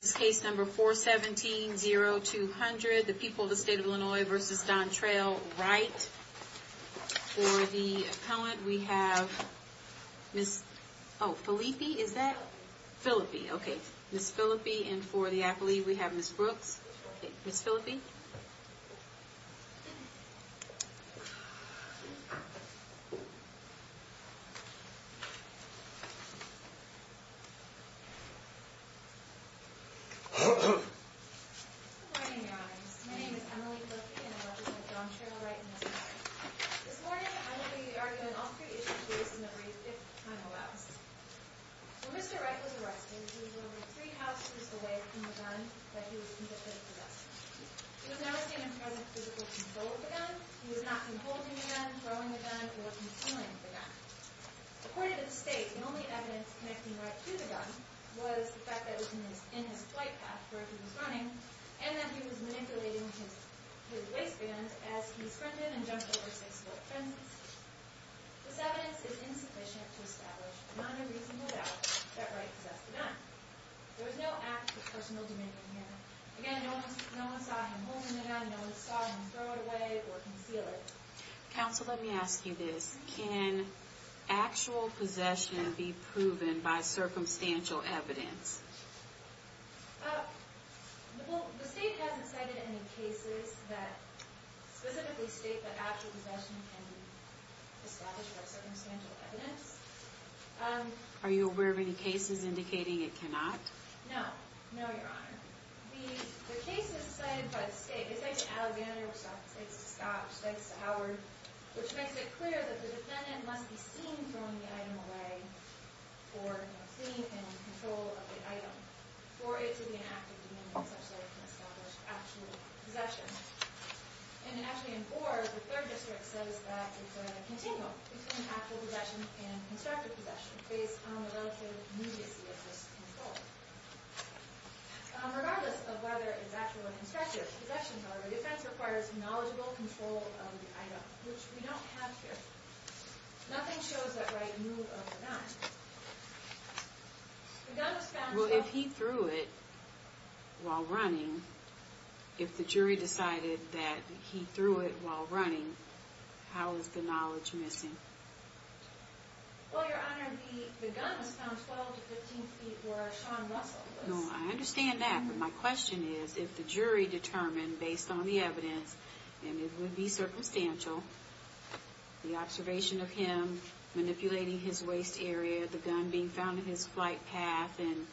This case number 417-0200, The People of the State of Illinois v. Don Trayl Wright. For the appellant, we have Miss, oh, Philippi, is that? Good morning, Your Honors. My name is Emily Philippi, and I represent Don Trayl Wright in this case. This morning, I will be arguing all three issues raised in the brief, if time allows. When Mr. Wright was arrested, he was only three houses away from the gun that he was convicted of possessing. He was not seen in present physical control of the gun. He was not seen holding the gun, throwing the gun, or controlling the gun. According to the state, the only evidence connecting Wright to the gun was the fact that it was in his flight path where he was running, and that he was manipulating his waistband as he sprinted and jumped over six foot fences. This evidence is insufficient to establish a non-reasonable doubt that Wright possessed the gun. There is no act of personal dominion here. Again, no one saw him holding the gun, no one saw him throw it away or conceal it. Counsel, let me ask you this. Can actual possession be proven by circumstantial evidence? Well, the state hasn't cited any cases that specifically state that actual possession can be established by circumstantial evidence. Are you aware of any cases indicating it cannot? No. No, Your Honor. The cases cited by the state, they cite to Alexander, they cite to Scott, they cite to Howard, which makes it clear that the defendant must be seen throwing the item away for thief and control of the item, for it to be an act of dominion such that it can establish actual possession. And actually in four, the third district says that it's a continuum between actual possession and constructive possession, based on the relative immediacy of this control. Regardless of whether it's actual or constructive possessions, however, the defense requires knowledgeable control of the item, which we don't have here. Nothing shows that Wright moved over that. Well, if he threw it while running, if the jury decided that he threw it while running, how is the knowledge missing? Well, Your Honor, the gun was found 12 to 15 feet where Sean Russell was. No, I understand that, but my question is, if the jury determined, based on the evidence, and it would be circumstantial, the observation of him manipulating his waist area, the gun being found in his flight path, and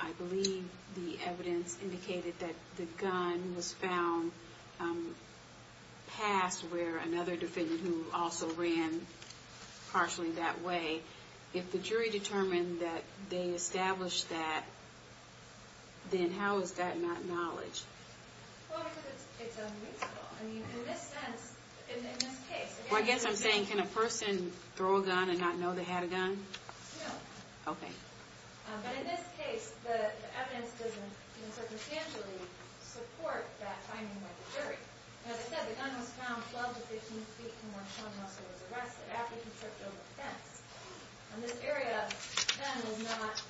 I believe the evidence indicated that the gun was found past where another defendant who also ran partially that way, if the jury determined that they established that, then how is that not knowledge? Well, because it's unreasonable. I mean, in this sense, in this case... Well, I guess I'm saying, can a person throw a gun and not know they had a gun? No. Okay. But in this case, the evidence doesn't circumstantially support that finding by the jury. As I said, the gun was found 12 to 15 feet from where Sean Russell was arrested, after he tripped over a fence. And this area, then, was not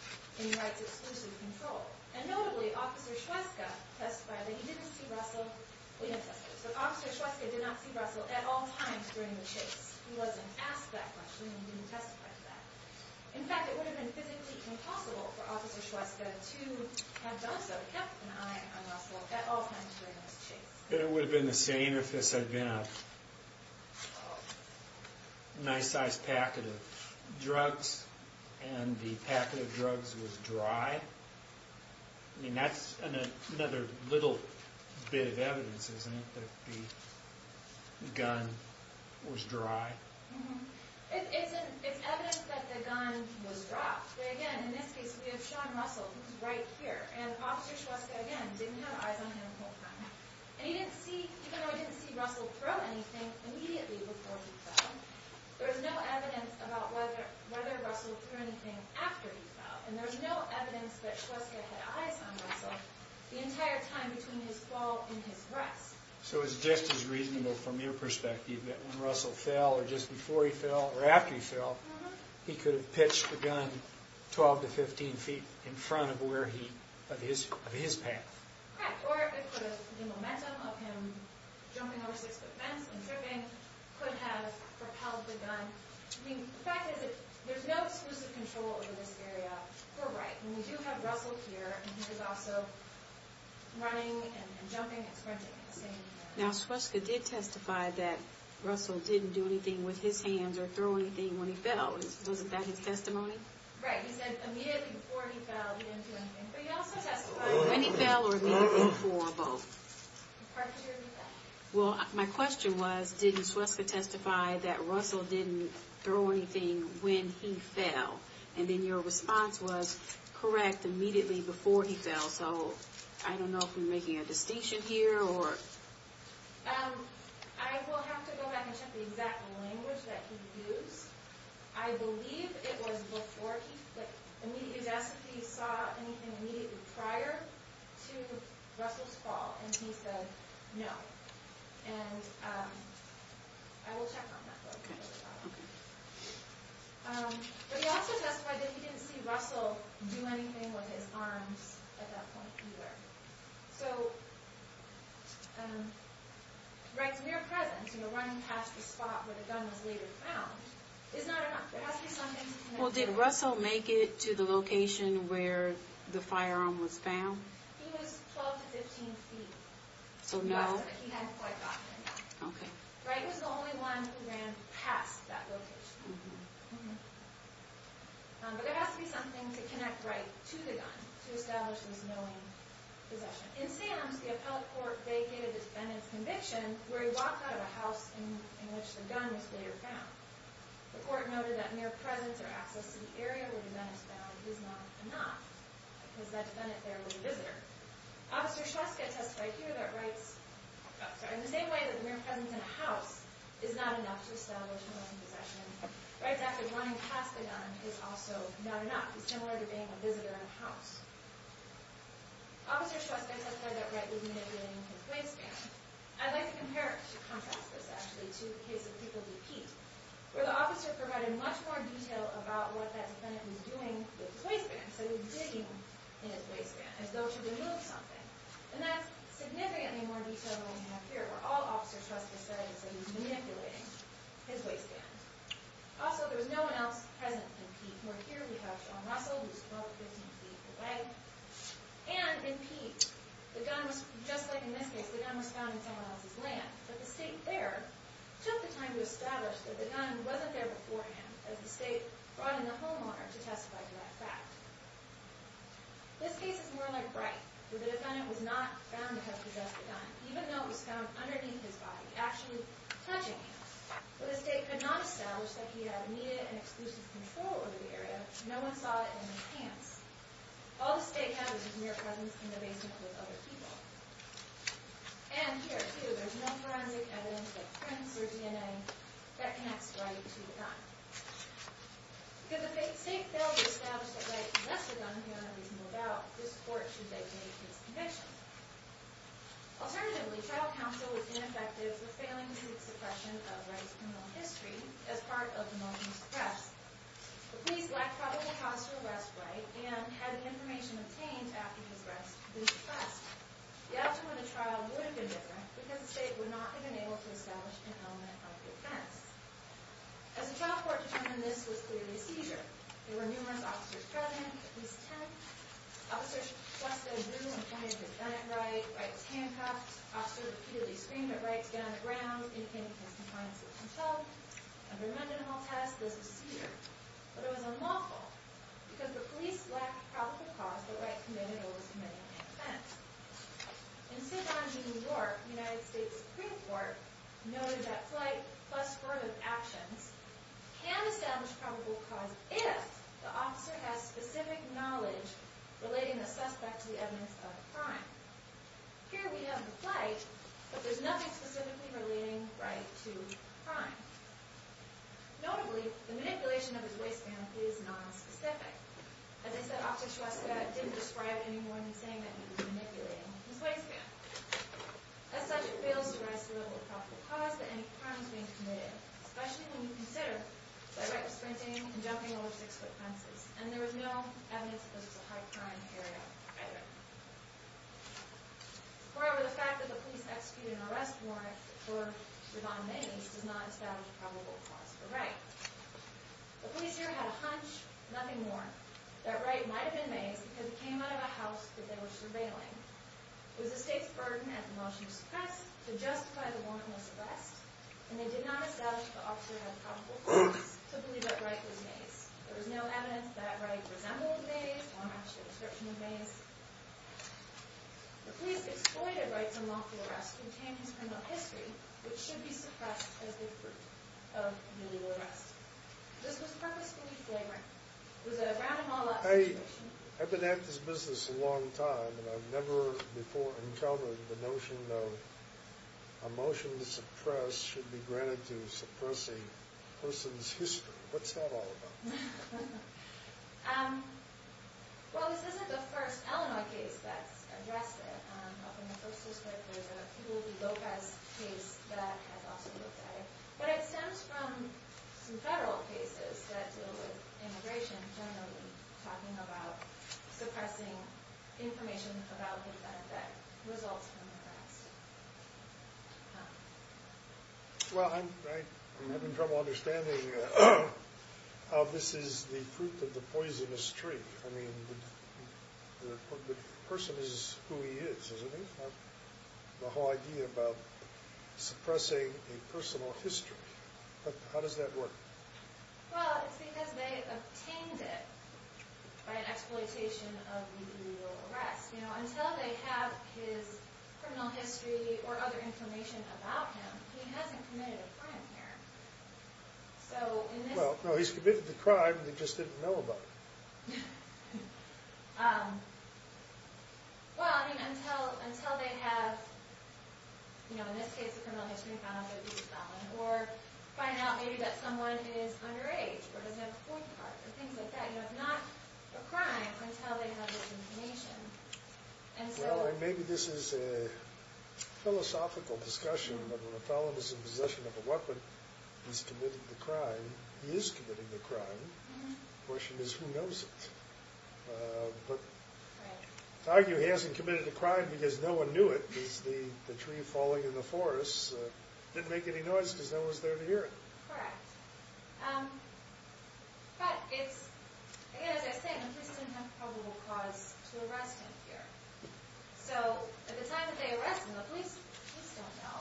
in Wright's exclusive control. And notably, Officer Shweska testified that he didn't see Russell. Officer Shweska did not see Russell at all times during the chase. He wasn't asked that question, and he didn't testify to that. In fact, it would have been physically impossible for Officer Shweska to have done so. He kept an eye on Russell at all times during this chase. Then it would have been the same if this had been a nice-sized packet of drugs, and the packet of drugs was dry. I mean, that's another little bit of evidence, isn't it, that the gun was dry? It's evidence that the gun was dry. But again, in this case, we have Sean Russell. He was right here. And Officer Shweska, again, didn't have eyes on him the whole time. And even though he didn't see Russell throw anything immediately before he fell, there's no evidence about whether Russell threw anything after he fell. And there's no evidence that Shweska had eyes on Russell the entire time between his fall and his rest. So it's just as reasonable from your perspective that when Russell fell, or just before he fell, or after he fell, he could have pitched the gun 12 to 15 feet in front of his path. Right. Or it could have been the momentum of him jumping over a six-foot fence and tripping could have propelled the gun. I mean, the fact is, there's no exclusive control over this area. We're right. And we do have Russell here. And he was also running and jumping and sprinting at the same time. Now, Shweska did testify that Russell didn't do anything with his hands or throw anything when he fell. Wasn't that his testimony? Right. He said immediately before he fell, he didn't do anything. But he also testified... When he fell or immediately before both. Partially when he fell. Well, my question was, didn't Shweska testify that Russell didn't throw anything when he fell? And then your response was, correct, immediately before he fell. So I don't know if we're making a distinction here, or... I will have to go back and check the exact language that he used. I believe it was before he fell. Immediately, he saw anything immediately prior to Russell's fall, and he said no. Okay. Okay. But he also testified that he didn't see Russell do anything with his arms at that point either. So, Wright's mere presence, you know, running past the spot where the gun was later found, is not enough. There has to be something... Well, did Russell make it to the location where the firearm was found? He was 12 to 15 feet. So no. He was, but he hadn't quite gotten enough. Okay. Wright was the only one who ran past that location. But there has to be something to connect Wright to the gun to establish this knowing possession. In Salem's, the appellate court vacated the defendant's conviction where he walked out of a house in which the gun was later found. The court noted that mere presence or access to the area where the gun is found is not enough, because that defendant there was a visitor. Officer Shvetska testified here that Wright's... Oh, sorry. In the same way that mere presence in a house is not enough to establish knowing possession, Wright's act of running past the gun is also not enough. It's similar to being a visitor in a house. Officer Shvetska testified that Wright was naked in his waistband. I'd like to compare, to contrast this actually, to the case of People v. Pete, where the officer provided much more detail about what that defendant was doing with his waistband. He said he was digging in his waistband as though to remove something. And that's significantly more detail than we have here, where all Officer Shvetska said is that he was manipulating his waistband. Also, there was no one else present in Pete. Where here we have Sean Russell, who was 12 or 15 feet away. And in Pete, the gun was, just like in this case, the gun was found in someone else's land. But the state there took the time to establish that the gun wasn't there beforehand, as the state brought in the homeowner to testify to that fact. This case is more like Wright, where the defendant was not found to have possessed the gun, even though it was found underneath his body, actually touching him. But the state could not establish that he had immediate and exclusive control over the area. No one saw it in his hands. All the state had was his mere presence in the basement with other people. And here, too, there's no forensic evidence of prints or DNA that connects Wright to the gun. Because if the state failed to establish that Wright possessed the gun, we don't have reason to move out. This court should dictate Pete's conviction. Alternatively, trial counsel was ineffective for failing to make suppression of Wright's criminal history as part of the motion to suppress. The police lacked probable cause to arrest Wright and had the information obtained after his arrest to be suppressed. The outcome of the trial would have been different because the state would not have been able to establish an element of defense. As a trial court determined, this was clearly a seizure. There were numerous officers present, at least ten. Officers just said, do not come here if you've done it, Wright. Wright was handcuffed. Officers repeatedly screamed at Wright to get on the ground. He came to his confines and was held. Under Mendenhall test, this was a seizure. But it was unlawful because the police lacked probable cause that Wright committed or was committing an offense. In St. John v. New York, the United States Supreme Court noted that flight plus form of actions can establish probable cause if the officer has specific knowledge relating the suspect to the evidence of a crime. Here we have the flight, but there's nothing specifically relating Wright to a crime. Notably, the manipulation of his waistband is nonspecific. As I said, officers who asked about it didn't describe it any more than saying that he was manipulating his waistband. As such, it fails to rise to the level of probable cause that any crime is being committed, especially when you consider that Wright was sprinting and jumping over six-foot fences, and there was no evidence that this was a high-crime area either. However, the fact that the police executed an arrest warrant for Ravon Mendes does not establish probable cause for Wright. The police here had a hunch, nothing more, that Wright might have been Mendes because he came out of a house that they were surveilling. It was the state's burden at the motion to suppress to justify the warrantless arrest, and they did not establish that the officer had probable cause to believe that Wright was Mendes. There was no evidence that Wright resembled Mendes or matched the description of Mendes. The police exploited Wright's unlawful arrest to obtain his criminal history, which should be suppressed as the fruit of a new arrest. This was purposefully flagrant. It was a round-of-all-out situation. I've been at this business a long time, and I've never before encountered the notion that a motion to suppress should be granted to suppress a person's history. What's that all about? Well, this isn't the first Illinois case that's addressed it. Up in the first district, there's a People v. Lopez case that has also looked at it. But it stems from some federal cases that deal with immigration, generally talking about suppressing information about the fact that results come first. Well, I'm having trouble understanding how this is the fruit of the poisonous tree. I mean, the person is who he is, isn't he? It's not the whole idea about suppressing a personal history. How does that work? Well, it's because they obtained it by an exploitation of the arrest. Until they have his criminal history or other information about him, he hasn't committed a crime here. Well, no, he's committed the crime. They just didn't know about it. Well, I mean, until they have, in this case, a criminal history found of abuse, or find out maybe that someone is underage or doesn't have a court card or things like that. It's not a crime until they have this information. Well, maybe this is a philosophical discussion, but when a felon is in possession of a weapon, he's committing the crime. He is committing the crime. The question is, who knows it? But to argue he hasn't committed a crime because no one knew it, because the tree falling in the forest didn't make any noise because no one was there to hear it. Correct. But it's, again, as I was saying, the police didn't have probable cause to arrest him here. So at the time that they arrest him, the police don't know.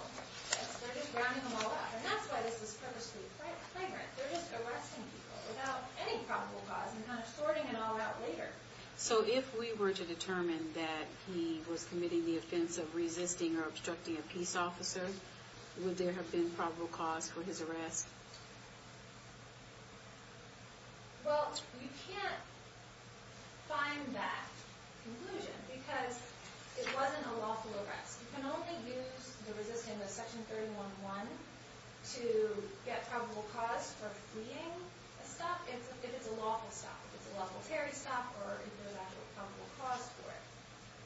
They're just rounding him all up. And that's why this is purposely flagrant. They're just arresting people without any probable cause and kind of sorting it all out later. So if we were to determine that he was committing the offense of resisting or obstructing a peace officer, would there have been probable cause for his arrest? Well, you can't find that conclusion because it wasn't a lawful arrest. You can only use the resisting of Section 311 to get probable cause for fleeing a stop if it's a lawful stop, if it's a lawful ferry stop or if there's actual probable cause for it.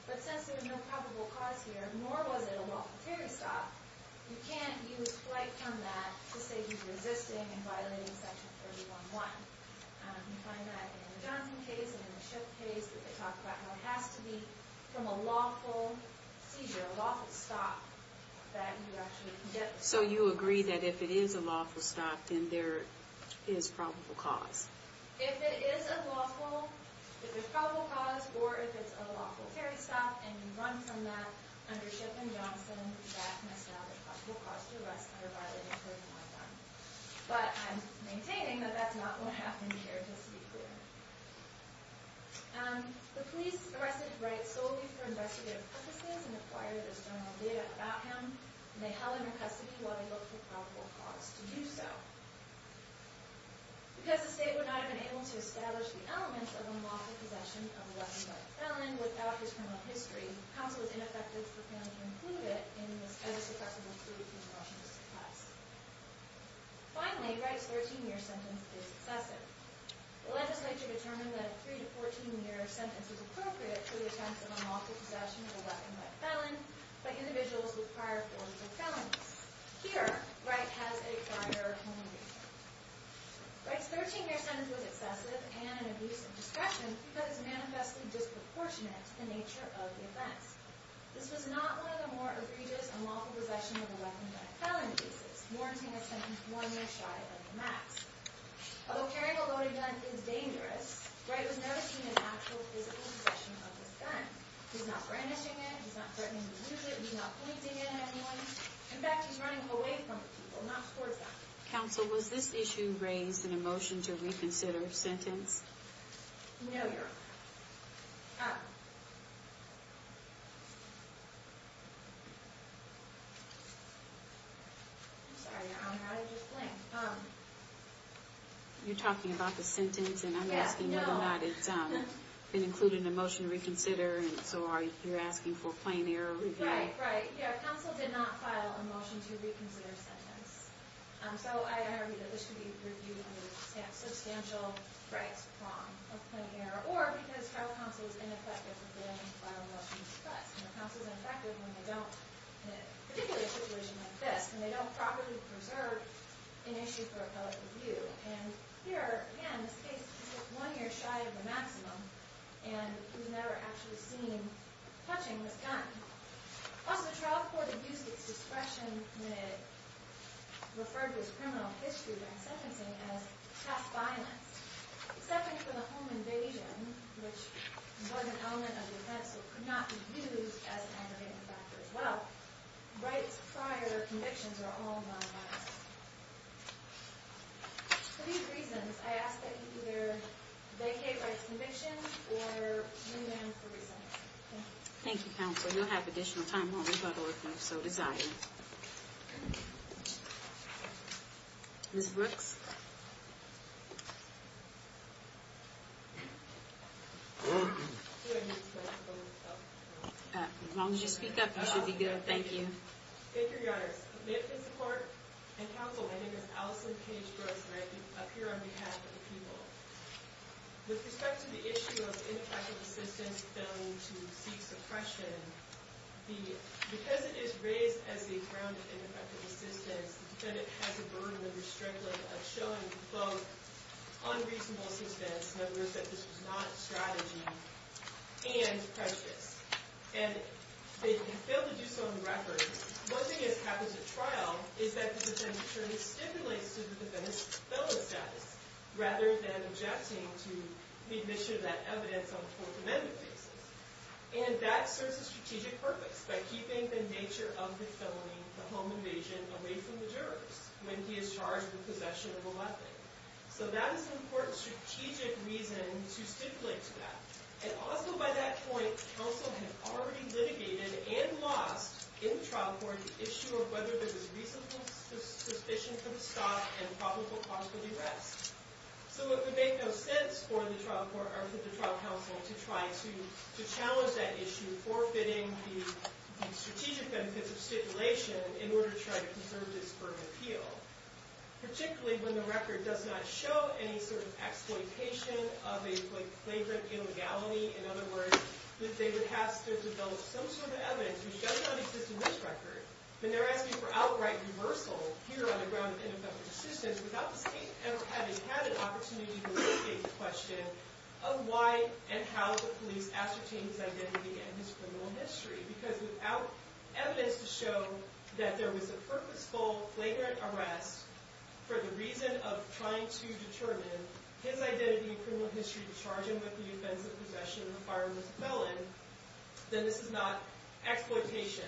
But since there's no probable cause here, nor was it a lawful ferry stop, you can't use flight from that to say he's resisting and violating Section 311. You find that in the Johnson case and in the Schiff case that they talk about how it has to be from a lawful seizure, a lawful stop that you actually can get. So you agree that if it is a lawful stop, then there is probable cause? If it is a lawful, if there's probable cause, or if it's a lawful ferry stop and you run from that under Schiff and Johnson, that must now be a probable cause to arrest him or violate Section 311. But I'm maintaining that that's not going to happen here just to be clear. The police arrested Wright solely for investigative purposes and acquired his general data about him, and they held him in custody while they looked for probable cause to do so. Because the state would not have been able to establish the elements of unlawful possession of a weapon by a felon without his criminal history, counsel is ineffective for failing to include it as a suppressive inclusion in Washington's request. Finally, Wright's 13-year sentence is excessive. The legislature determined that a 3- to 14-year sentence is appropriate for the attempt of unlawful possession of a weapon by a felon by individuals with prior forms of felonies. Here, Wright has a prior felony. Wright's 13-year sentence was excessive and an abuse of discretion because it is manifestly disproportionate to the nature of the offense. This was not one of the more egregious unlawful possession of a weapon by a felon cases, warranting a sentence one year shy of the max. Although carrying a loaded gun is dangerous, Wright was never seen in actual physical possession of this gun. He's not brandishing it. He's not threatening to use it. He's not pointing it at anyone. In fact, he's running away from people, not towards them. Counsel, was this issue raised in a motion to reconsider sentence? No, Your Honor. I'm sorry, Your Honor. I just blinked. You're talking about the sentence, and I'm asking whether or not it's been included in the motion to reconsider. And so you're asking for a plain error review? Right, right. Counsel did not file a motion to reconsider sentence. So I argue that this should be reviewed under the substantial rights prong of plain error. Or because federal counsel is ineffective if they don't file a motion to discuss. Counsel is ineffective when they don't, in a particular situation like this, when they don't properly preserve an issue for appellate review. And here, again, this case is one year shy of the maximum, and he was never actually seen touching this gun. Also, the trial court abused its discretion when it referred to his criminal history during sentencing as past violence. Except for the home invasion, which was an element of the offense, so it could not be used as an aggravating factor as well, rights prior to convictions are all non-violent. For these reasons, I ask that you either vacate rights to conviction, or move on for recess. Thank you, Counsel. You'll have additional time, won't you, by the way, if you so desire. Ms. Brooks? As long as you speak up, you should be good. Thank you. Thank you, Your Honors. May it please the Court and Counsel, my name is Allison Cage Brooks, and I appear on behalf of the people. With respect to the issue of ineffective assistance found to seek suppression, because it is raised as the ground of ineffective assistance, the defendant has the burden of showing both unreasonable assistance, in other words, that this was not a strategy, and prejudice. And they fail to do so on record. One thing that happens at trial is that the defendant actually stimulates the defendant's felon status, rather than objecting to the admission of that evidence on a Fourth Amendment basis. And that serves a strategic purpose, by keeping the nature of the felony, the home invasion, away from the jurors, when he is charged with possession of a weapon. So that is an important strategic reason to stipulate to that. And also by that point, counsel had already litigated and lost, in the trial court, the issue of whether there was reasonable suspicion for the stop and probable cause for the arrest. So it would make no sense for the trial court, or for the trial counsel, to try to challenge that issue, forfeiting the strategic benefits of stipulation, in order to try to conserve this burden of appeal. Particularly when the record does not show any sort of exploitation of a flagrant illegality, in other words, that they would have to develop some sort of evidence, which does not exist in this record. But they're asking for outright reversal, here on the ground of ineffective assistance, without the state ever having had an opportunity to litigate the question of why and how the police ascertained his identity and his criminal history. Because without evidence to show that there was a purposeful, flagrant arrest, for the reason of trying to determine his identity and criminal history, to charge him with the offense of possession of a firearm as a felon, then this is not exploitation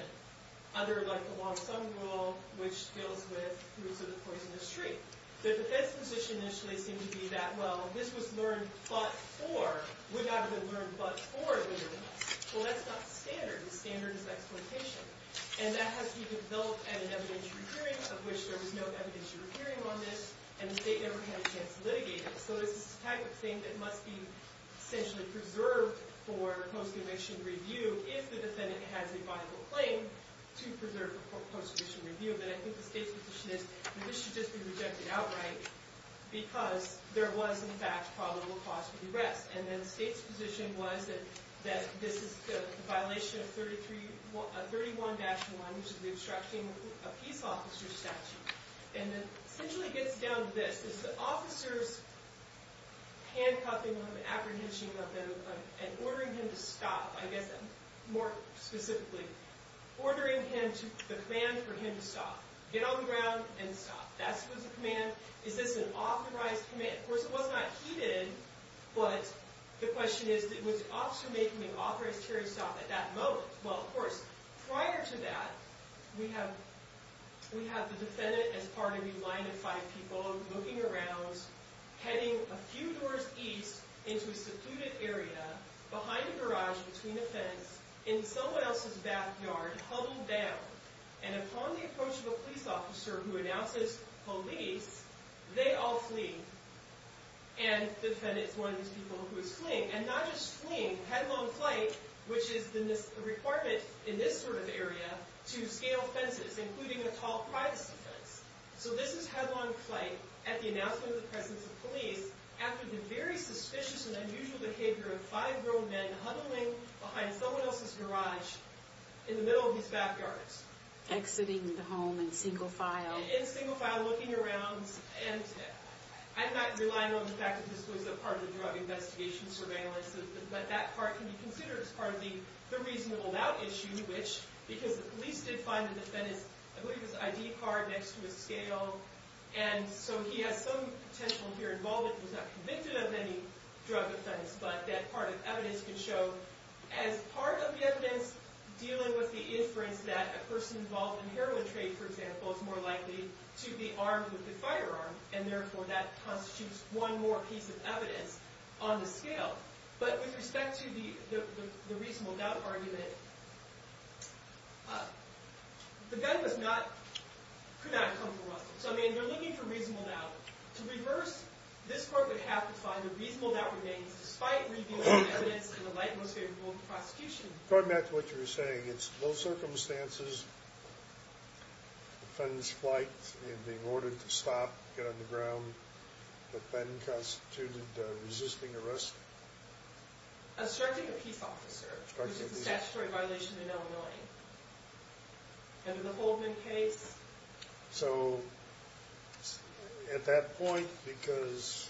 under the long-sum rule, which deals with the roots of the poisonous tree. The defense position initially seemed to be that, well, this was learned but for, would not have been learned but for illegality. Well, that's not the standard. The standard is exploitation. And that has to be developed at an evidentiary hearing, of which there was no evidentiary hearing on this, and the state never had a chance to litigate it. So this is the type of thing that must be essentially preserved for post-conviction review, if the defendant has a viable claim to preserve for post-conviction review. But I think the state's position is that this should just be rejected outright, because there was, in fact, probable cause for the arrest. And then the state's position was that this is the violation of 31-1, which is the obstruction of a peace officer's statute. And it essentially gets down to this. It's the officer's handcuffing or the apprehension of the, and ordering him to stop, I guess, more specifically, ordering him to, the command for him to stop. Get on the ground and stop. That was the command. Is this an authorized command? Of course, it was not. He did, but the question is, was the officer making an authorized carry stop at that moment? Well, of course, prior to that, we have the defendant as part of the line of five people looking around, heading a few doors east into a secluded area, behind a garage, between a fence, in someone else's backyard, huddled down. And upon the approach of a police officer who announces police, they all flee. And the defendant is one of these people who is fleeing. And not just fleeing, headlong flight, which is the requirement in this sort of area, to scale fences, including a tall, privacy fence. So this is headlong flight at the announcement of the presence of police, after the very suspicious and unusual behavior of five grown men huddling behind someone else's garage in the middle of these backyards. Exiting the home in single file. In single file, looking around. I'm not relying on the fact that this was a part of the drug investigation surveillance, but that part can be considered as part of the reasonable doubt issue, because the police did find the defendant's ID card next to his scale. And so he has some potential in here involvement. He was not convicted of any drug offense, but that part of evidence can show, as part of the evidence dealing with the inference that a person involved in heroin trade, for example, is more likely to be armed with a firearm, and therefore that constitutes one more piece of evidence on the scale. But with respect to the reasonable doubt argument, the gun could not have come for Russell. So, I mean, they're looking for reasonable doubt. To reverse this court would have to find the reasonable doubt remains, despite revealing evidence in the light and most favorable of the prosecution. According to what you were saying, it's those circumstances, the defendant's flight and being ordered to stop, get on the ground, that then constituted resisting arrest? Asserting a peace officer, which is a statutory violation in Illinois. Under the Holdman case. So, at that point, because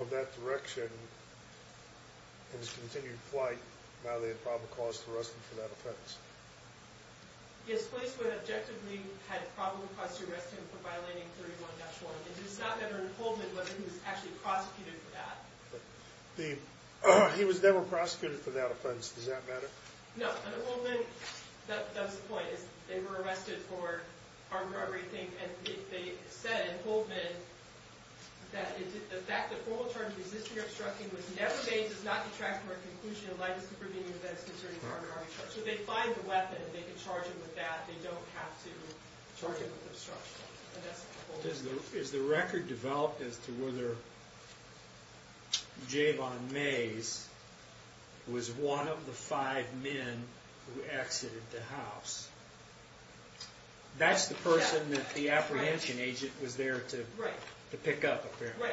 of that direction, and his continued flight, now they have probable cause to arrest him for that offense? Yes, police would objectively have probable cause to arrest him for violating 31-1. It does not matter in Holdman whether he was actually prosecuted for that. He was never prosecuted for that offense, does that matter? No, under Holdman, that was the point. They were arrested for armed robbery, and they said in Holdman, that the fact that formal charges of resisting obstruction was never made does not detract from our conclusion in light of supervening events concerning armed robbery charges. So they find the weapon, and they can charge him with that. They don't have to charge him with obstruction. Is the record developed as to whether Jayvon Mays was one of the five men who exited the house? That's the person that the apprehension agent was there to pick up, apparently.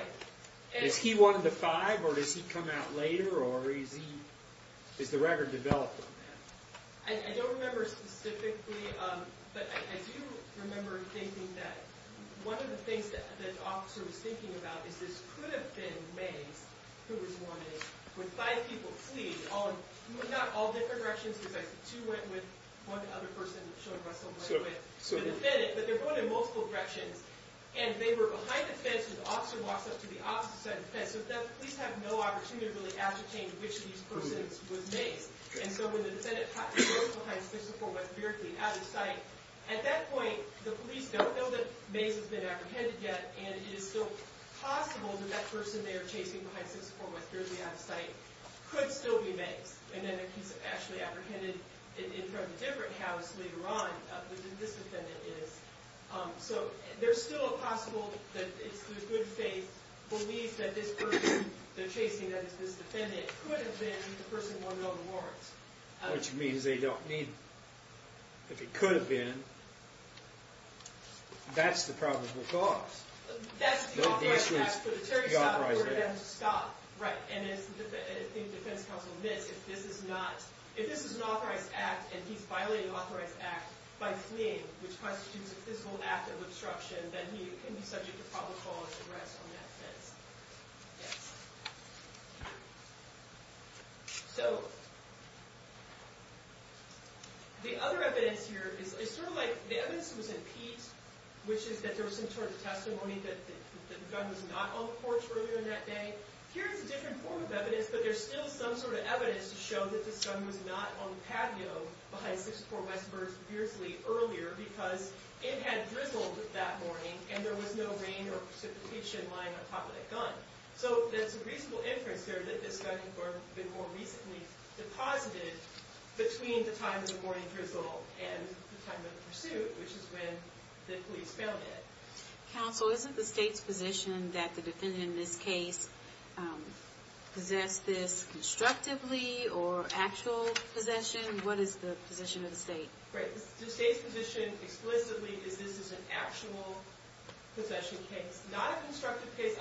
Is he one of the five, or does he come out later, or is the record developed on that? I don't remember specifically, but I do remember thinking that one of the things that the officer was thinking about is this could have been Mays who was wanted when five people fleed, not all different directions, because I see two went with one other person showing Russell, but they're going in multiple directions, and they were behind the fence when the officer walks up to the opposite side of the fence, so the police have no opportunity to really ascertain which of these persons was Mays. And so when the defendant goes behind 64 West Berkeley out of sight, at that point the police don't know that Mays has been apprehended yet, and it is still possible that that person they are chasing behind 64 West Berkeley out of sight could still be Mays, and that he's actually apprehended in front of a different house later on than this defendant is. So there's still a possible that it's the good faith belief that this person they're chasing, that is this defendant, could have been the person wanted on the warrants. What you mean is they don't need him. If it could have been, that's the probable cause. That's the authorized act for the Terry Scott or the Evans Scott, right, and as the defense counsel admits, if this is not, if this is an authorized act and he's violating an authorized act by fleeing, which constitutes a physical act of obstruction, then he can be subject to probable cause arrest on that offense. Yes. So the other evidence here is sort of like the evidence that was in Pete, which is that there was some sort of testimony that the gun was not on the porch earlier in that day. Here is a different form of evidence, but there's still some sort of evidence to show that the gun was not on the patio behind 64 West Berkeley earlier because it had drizzled that morning and there was no rain or precipitation lying on top of the gun. So there's a reasonable inference here that this gun had been more recently deposited between the time of the morning drizzle and the time of the pursuit, which is when the police found it. Counsel, isn't the state's position that the defendant in this case possessed this constructively or actual possession? What is the position of the state? The state's position explicitly is this is an actual possession case, not a constructive case.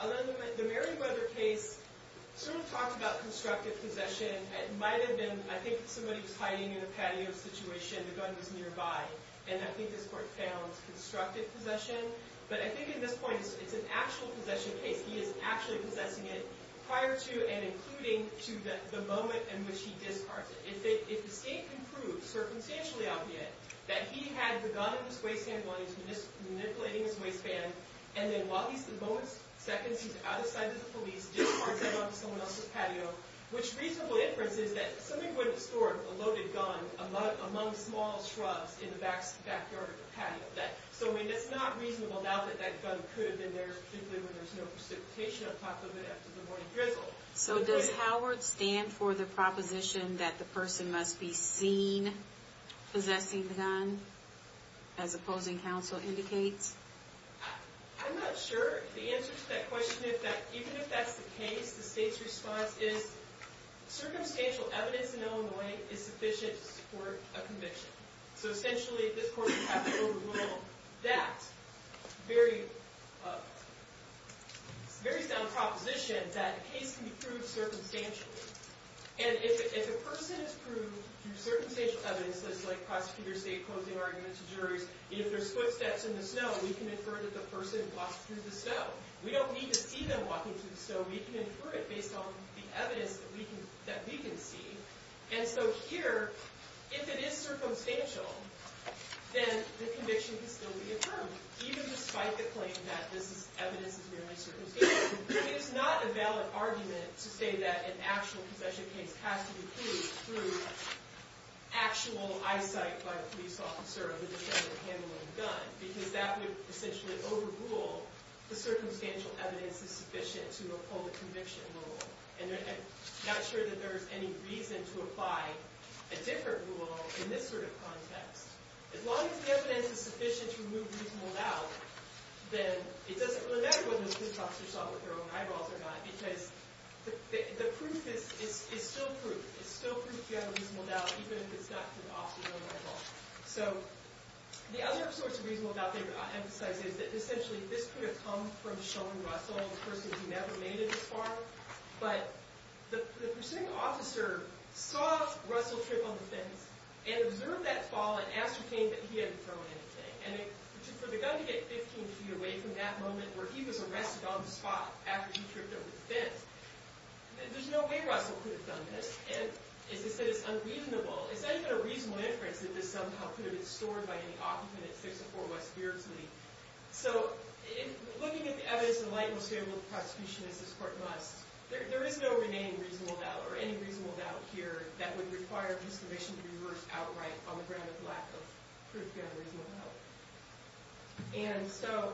The Merriweather case sort of talked about constructive possession. It might have been, I think, somebody was hiding in a patio situation, the gun was nearby, and I think this court found constructive possession. But I think at this point it's an actual possession case. He is actually possessing it prior to and including to the moment in which he discards it. If the state can prove circumstantially obviate that he had the gun in his waistband while he was manipulating his waistband, and then while he's at the moment, seconds, he's out of sight of the police, discards it onto someone else's patio, which reasonable inference is that somebody would have stored a loaded gun among small shrubs in the backyard patio. So it's not reasonable now that that gun could have been there, particularly when there's no precipitation on top of it after the morning drizzle. So does Howard stand for the proposition that the person must be seen possessing the gun, as opposing counsel indicates? I'm not sure. The answer to that question is that even if that's the case, the state's response is circumstantial evidence in Illinois is sufficient to support a conviction. So essentially, at this point, we have to overrule that very sound proposition that a case can be proved circumstantially. And if a person is proved through circumstantial evidence, such as like prosecutor state closing arguments to juries, if there's footsteps in the snow, we can infer that the person walked through the snow. We don't need to see them walking through the snow. We can infer it based on the evidence that we can see. And so here, if it is circumstantial, then the conviction can still be affirmed, even despite the claim that this evidence is merely circumstantial. It is not a valid argument to say that an actual possession case has to be proved through actual eyesight by a police officer who is trying to handle a gun, because that would essentially overrule the circumstantial evidence is sufficient to uphold a conviction rule. And I'm not sure that there's any reason to apply a different rule in this sort of context. As long as the evidence is sufficient to remove reasonable doubt, then it doesn't really matter whether the police officer shot with their own eyeballs or not, because the proof is still proof. It's still proof you have a reasonable doubt, even if it's not through the officer's own eyeballs. So the other source of reasonable doubt that I emphasize is that, essentially, this could have come from Sean Russell, a person who never made it this far, but the proceeding officer saw Russell trip on the fence and observed that fall and ascertained that he hadn't thrown anything. And for the gun to get 15 feet away from that moment where he was arrested on the spot after he tripped over the fence, there's no way Russell could have done this. And as I said, it's unreasonable. It's not even a reasonable inference that this somehow could have been stored by any occupant at 604 West Beardsley. So looking at the evidence in light and stable of the prosecution, as this court must, there is no remaining reasonable doubt, or any reasonable doubt here, that would require a determination to be reversed outright on the ground of the lack of proof you have a reasonable doubt. And so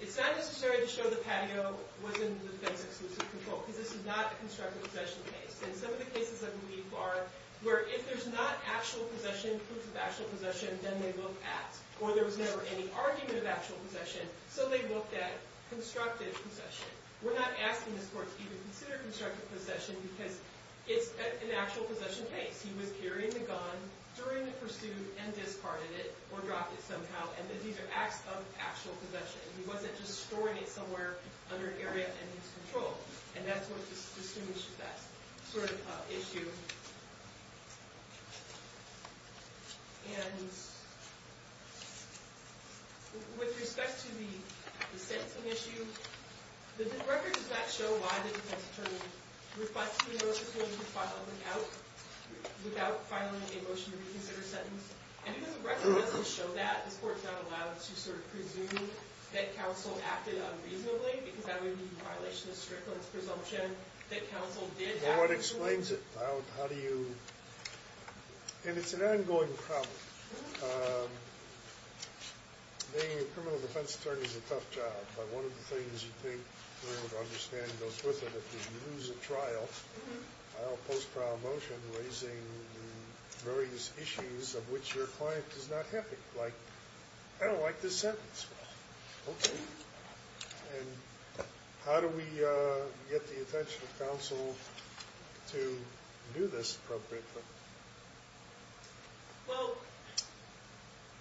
it's not necessary to show the patio was in the defense's exclusive control, because this is not a constructive possession case. And some of the cases, I believe, are where if there's not actual possession, proof of actual possession, then they look at, or there was never any argument of actual possession, so they looked at constructive possession. We're not asking this court to even consider constructive possession because it's an actual possession case. He was carrying the gun during the pursuit and discarded it or dropped it somehow, and these are acts of actual possession. He wasn't just storing it somewhere under an area in his control. And that's what distinguishes that sort of issue. And with respect to the sentencing issue, the record does not show why the defense attorney refused to file without filing a motion to reconsider sentence. And even the record doesn't show that. This court is not allowed to sort of presume that counsel acted unreasonably because that would be in violation of Strickland's presumption that counsel did act reasonably. Well, what explains it? How do you – and it's an ongoing problem. Being a criminal defense attorney is a tough job, but one of the things you think we're able to understand goes with it. If you lose a trial, file a post-trial motion raising various issues of which your client is not happy, like, I don't like this sentence. Okay. And how do we get the attention of counsel to do this appropriately? Well,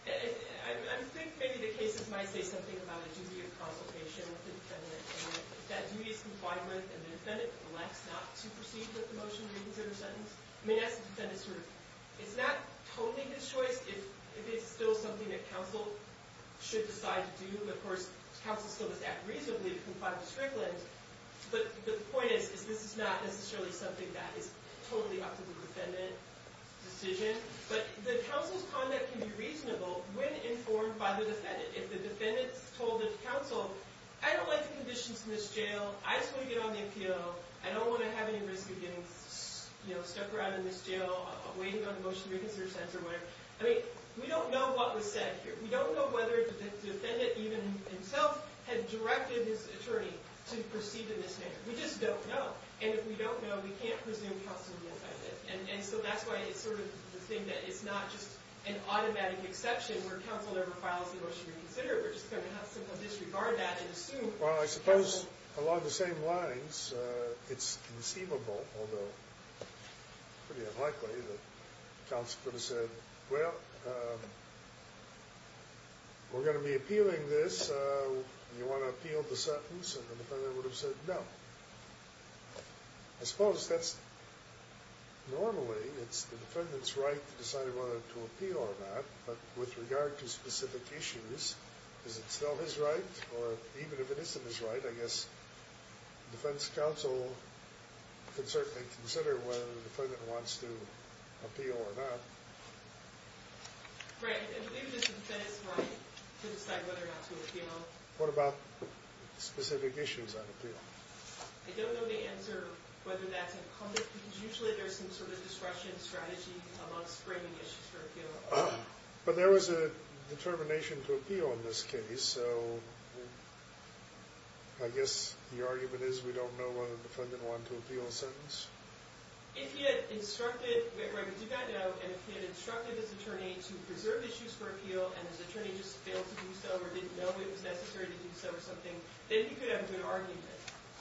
I think maybe the cases might say something about a duty of consultation with the defendant and that duty is complied with and the defendant elects not to proceed with the motion to reconsider sentence. I mean, that's the defendant's sort of – it's not totally his choice if it's still something that counsel should decide to do. Of course, counsel still must act reasonably to comply with Strickland, but the point is this is not necessarily something that is totally up to the defendant's decision. But the counsel's conduct can be reasonable when informed by the defendant. If the defendant's told the counsel, I don't like the conditions in this jail, I just want to get on the APO, I don't want to have any risk of getting stuck around in this jail waiting on the motion to reconsider sentence or whatever. I mean, we don't know what was said here. We don't know whether the defendant even himself had directed his attorney to proceed in this manner. We just don't know. And if we don't know, we can't presume counsel would be offended. And so that's why it's sort of the thing that it's not just an automatic exception where counsel never files the motion to reconsider it. We're just going to have simple disregard of that and assume counsel – Well, I suppose along the same lines, it's conceivable, although pretty unlikely, that counsel could have said, Well, we're going to be appealing this. Do you want to appeal the sentence? And the defendant would have said no. I suppose that's – normally it's the defendant's right to decide whether to appeal or not. But with regard to specific issues, is it still his right? Or even if it isn't his right, I guess defense counsel could certainly consider whether the defendant wants to appeal or not. Right. I believe it's the defendant's right to decide whether or not to appeal. What about specific issues on appeal? I don't know the answer whether that's incumbent because usually there's some sort of discretion strategy amongst bringing issues for appeal. But there was a determination to appeal in this case. So I guess the argument is we don't know whether the defendant wanted to appeal the sentence? If he had instructed – right, because he got no, and if he had instructed his attorney to preserve issues for appeal and his attorney just failed to do so or didn't know it was necessary to do so or something, then he could have a good argument,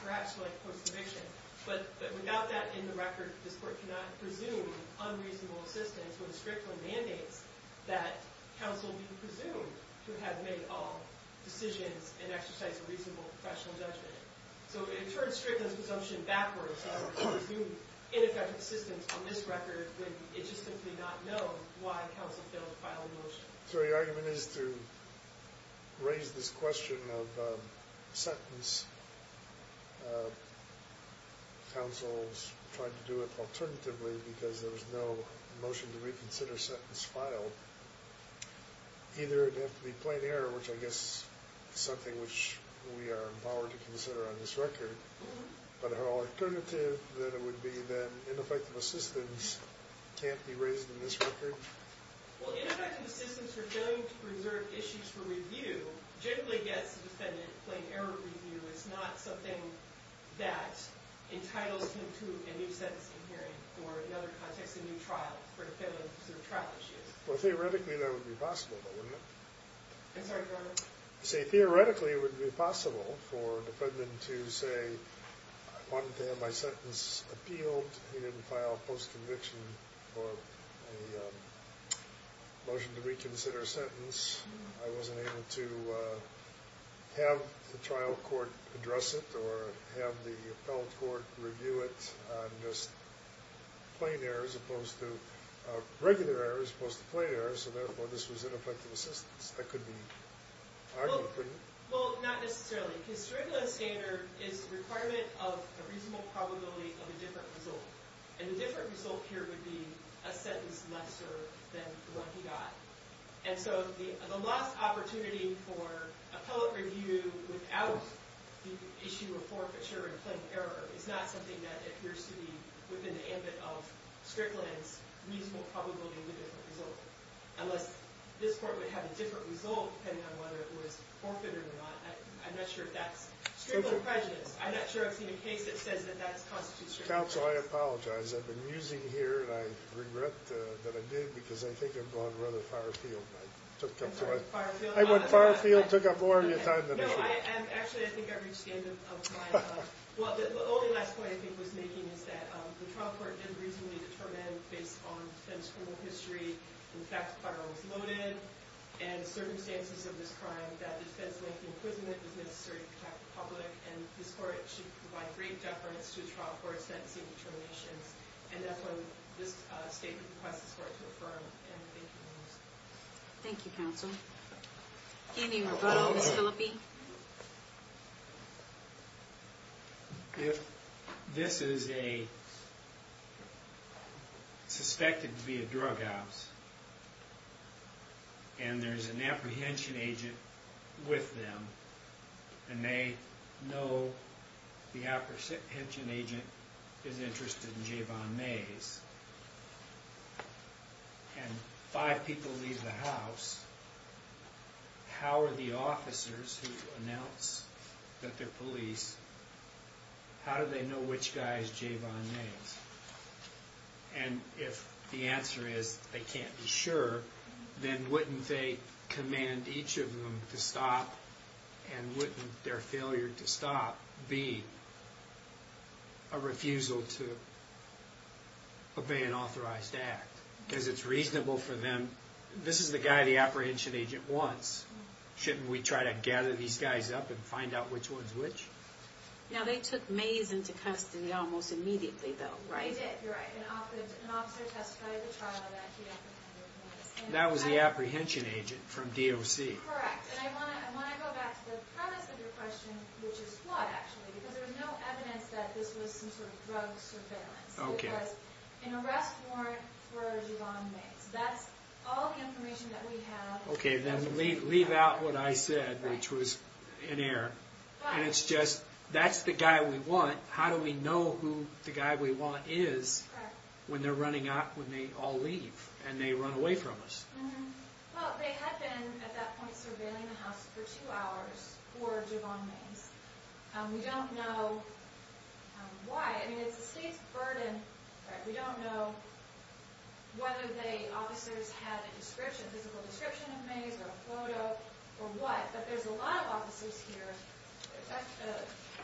perhaps for, like, post-deviction. But without that in the record, this Court cannot presume unreasonable assistance when it strictly mandates that counsel be presumed to have made all decisions and exercised a reasonable professional judgment. So it turns strictness presumption backwards, and I would presume ineffectual assistance on this record would just simply not know why counsel failed to file a motion. So your argument is to raise this question of sentence. Counsel tried to do it alternatively because there was no motion to reconsider sentence filed. Either it would have to be plain error, which I guess is something which we are empowered to consider on this record, but an alternative would be that ineffective assistance can't be raised in this record? Well, ineffective assistance for failing to preserve issues for review generally gets the defendant plain error review. It's not something that entitles him to a new sentence in hearing or, in other contexts, a new trial for failing to preserve trial issues. Well, theoretically, that would be possible, though, wouldn't it? I'm sorry, go ahead. See, theoretically, it would be possible for a defendant to say, I wanted to have my sentence appealed. He didn't file a post-conviction or a motion to reconsider sentence. I wasn't able to have the trial court address it or have the appellate court review it. Plain error as opposed to regular error as opposed to plain error, so therefore this was ineffective assistance. That could be argued, couldn't it? Well, not necessarily. Because curriculum standard is a requirement of a reasonable probability of a different result, and a different result here would be a sentence lesser than the one he got. And so the last opportunity for appellate review without the issue of forfeiture and plain error is not something that appears to be within the ambit of Strickland's reasonable probability of a different result, unless this court would have a different result depending on whether it was forfeited or not. I'm not sure if that's Strickland prejudice. I'm not sure I've seen a case that says that that constitutes strict prejudice. Counsel, I apologize. I've been musing here, and I regret that I did because I think I'm going rather far afield. I took up more of your time than I should. No, actually, I think I've reached the end of my time. Well, the only last point I think I was making is that the trial court didn't reasonably determine, based on the defendant's criminal history, the fact that the firearm was loaded and the circumstances of this crime, that a defense-length imprisonment was necessary to protect the public, and this court should provide great deference to a trial court's sentencing determinations. And that's why this statement requests this court to affirm. And thank you. Thank you, counsel. Any rebuttals, Philippi? If this is a... suspected to be a drug obsess, and there's an apprehension agent with them, and they know the apprehension agent is interested in Javon Mays, and five people leave the house, how are the officers who announce that they're police, how do they know which guy is Javon Mays? And if the answer is they can't be sure, then wouldn't they command each of them to stop, and wouldn't their failure to stop be a refusal to obey an authorized act? Because it's reasonable for them... This is the guy the apprehension agent wants. Shouldn't we try to gather these guys up and find out which one's which? Now, they took Mays into custody almost immediately, though, right? They did, you're right. An officer testified at the trial that he apprehended Mays. That was the apprehension agent from DOC. Correct. And I want to go back to the premise of your question, which is flawed, actually, because there's no evidence that this was some sort of drug surveillance. Okay. It was an arrest warrant for Javon Mays. That's all the information that we have. Okay, then leave out what I said, which was in error. And it's just, that's the guy we want. How do we know who the guy we want is when they're running out, when they all leave, and they run away from us? Well, they had been, at that point, for two hours for Javon Mays. We don't know why. I mean, it's the state's burden, right? We don't know whether the officers had a description, a physical description of Mays or a photo or what, but there's a lot of officers here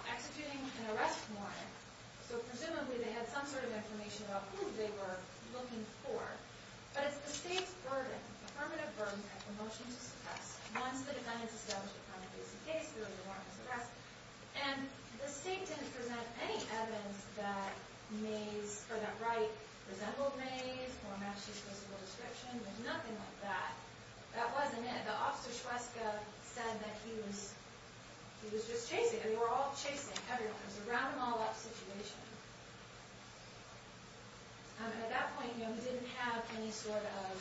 executing an arrest warrant. So presumably they had some sort of information about who they were looking for. But it's the state's burden, affirmative burden at the motion to suppress. Once the defendant's established the crime of basic case, there is a warrant to suppress. And the state didn't present any evidence that Mays, or that Wright resembled Mays or matched his physical description. There's nothing like that. That wasn't it. The officer Shweska said that he was just chasing. They were all chasing everyone. It was a round-them-all-up situation. At that point, you know, we didn't have any sort of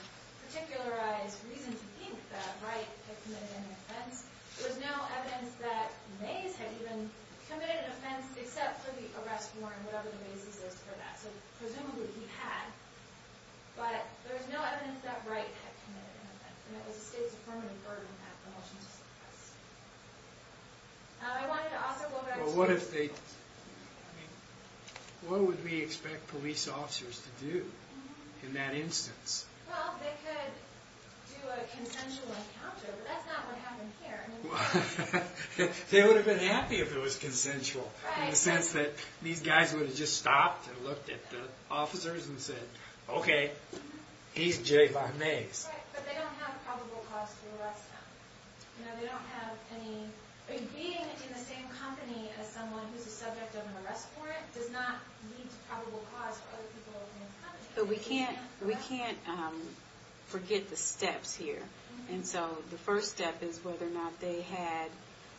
particularized reason to think that Wright had committed any offense. There's no evidence that Mays had even committed an offense except for the arrest warrant, whatever the basis is for that. So presumably he had. But there's no evidence that Wright had committed an offense, and it was the state's affirmative burden at the motion to suppress. I wanted to also go back to the motion to suppress. What would we expect police officers to do in that instance? Well, they could do a consensual encounter, but that's not what happened here. They would have been happy if it was consensual, in the sense that these guys would have just stopped and looked at the officers and said, Okay, he's Jayvon Mays. Right, but they don't have a probable cause to arrest him. Being in the same company as someone who's the subject of an arrest warrant does not lead to probable cause for other people in his company. But we can't forget the steps here. And so the first step is whether or not they had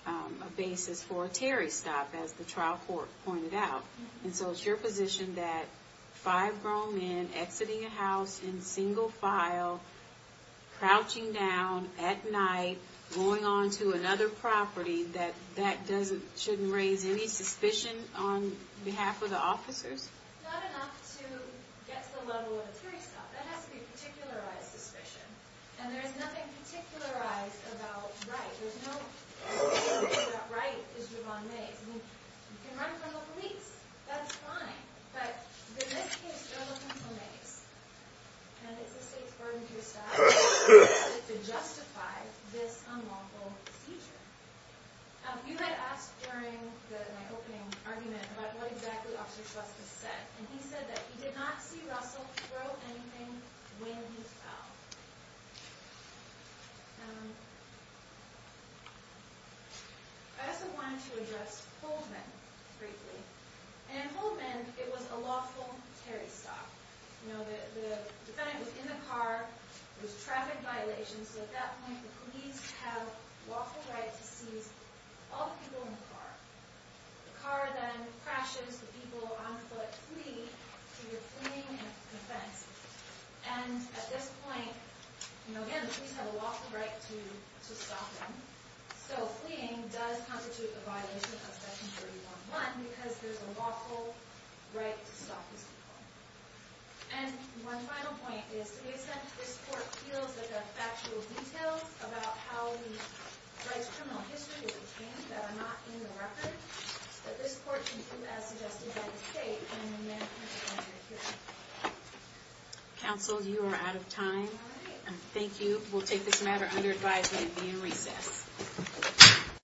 a basis for a Terry stop, as the trial court pointed out. And so it's your position that five grown men exiting a house in single file, crouching down at night, going on to another property, that that shouldn't raise any suspicion on behalf of the officers? Not enough to get to the level of a Terry stop. That has to be a particularized suspicion. And there's nothing particularized about Wright. There's no suspicion that Wright is Jayvon Mays. You can run from the police. That's fine. But in this case, they're looking for Mays. And it's a state's burden to your side to justify this unlawful seizure. You had asked during my opening argument about what exactly Officer Schlesinger said. And he said that he did not see Russell throw anything when he fell. I also wanted to address Holdman briefly. And in Holdman, it was a lawful Terry stop. The defendant was in the car. There was traffic violations. So at that point, the police have lawful right to seize all the people in the car. The car then crashes. The people on foot flee. So you're fleeing an offense. And at this point, again, the police have a lawful right to stop them. So fleeing does constitute a violation of Section 311 because there's a lawful right to stop these people. And one final point is, in a sense, this court feels that there are factual details about how the Wright's criminal history was obtained that are not in the record. But this court can do as suggested by the state, and we may not have to go into it here. Counsel, you are out of time. And thank you. We'll take this matter under advisement and be in recess.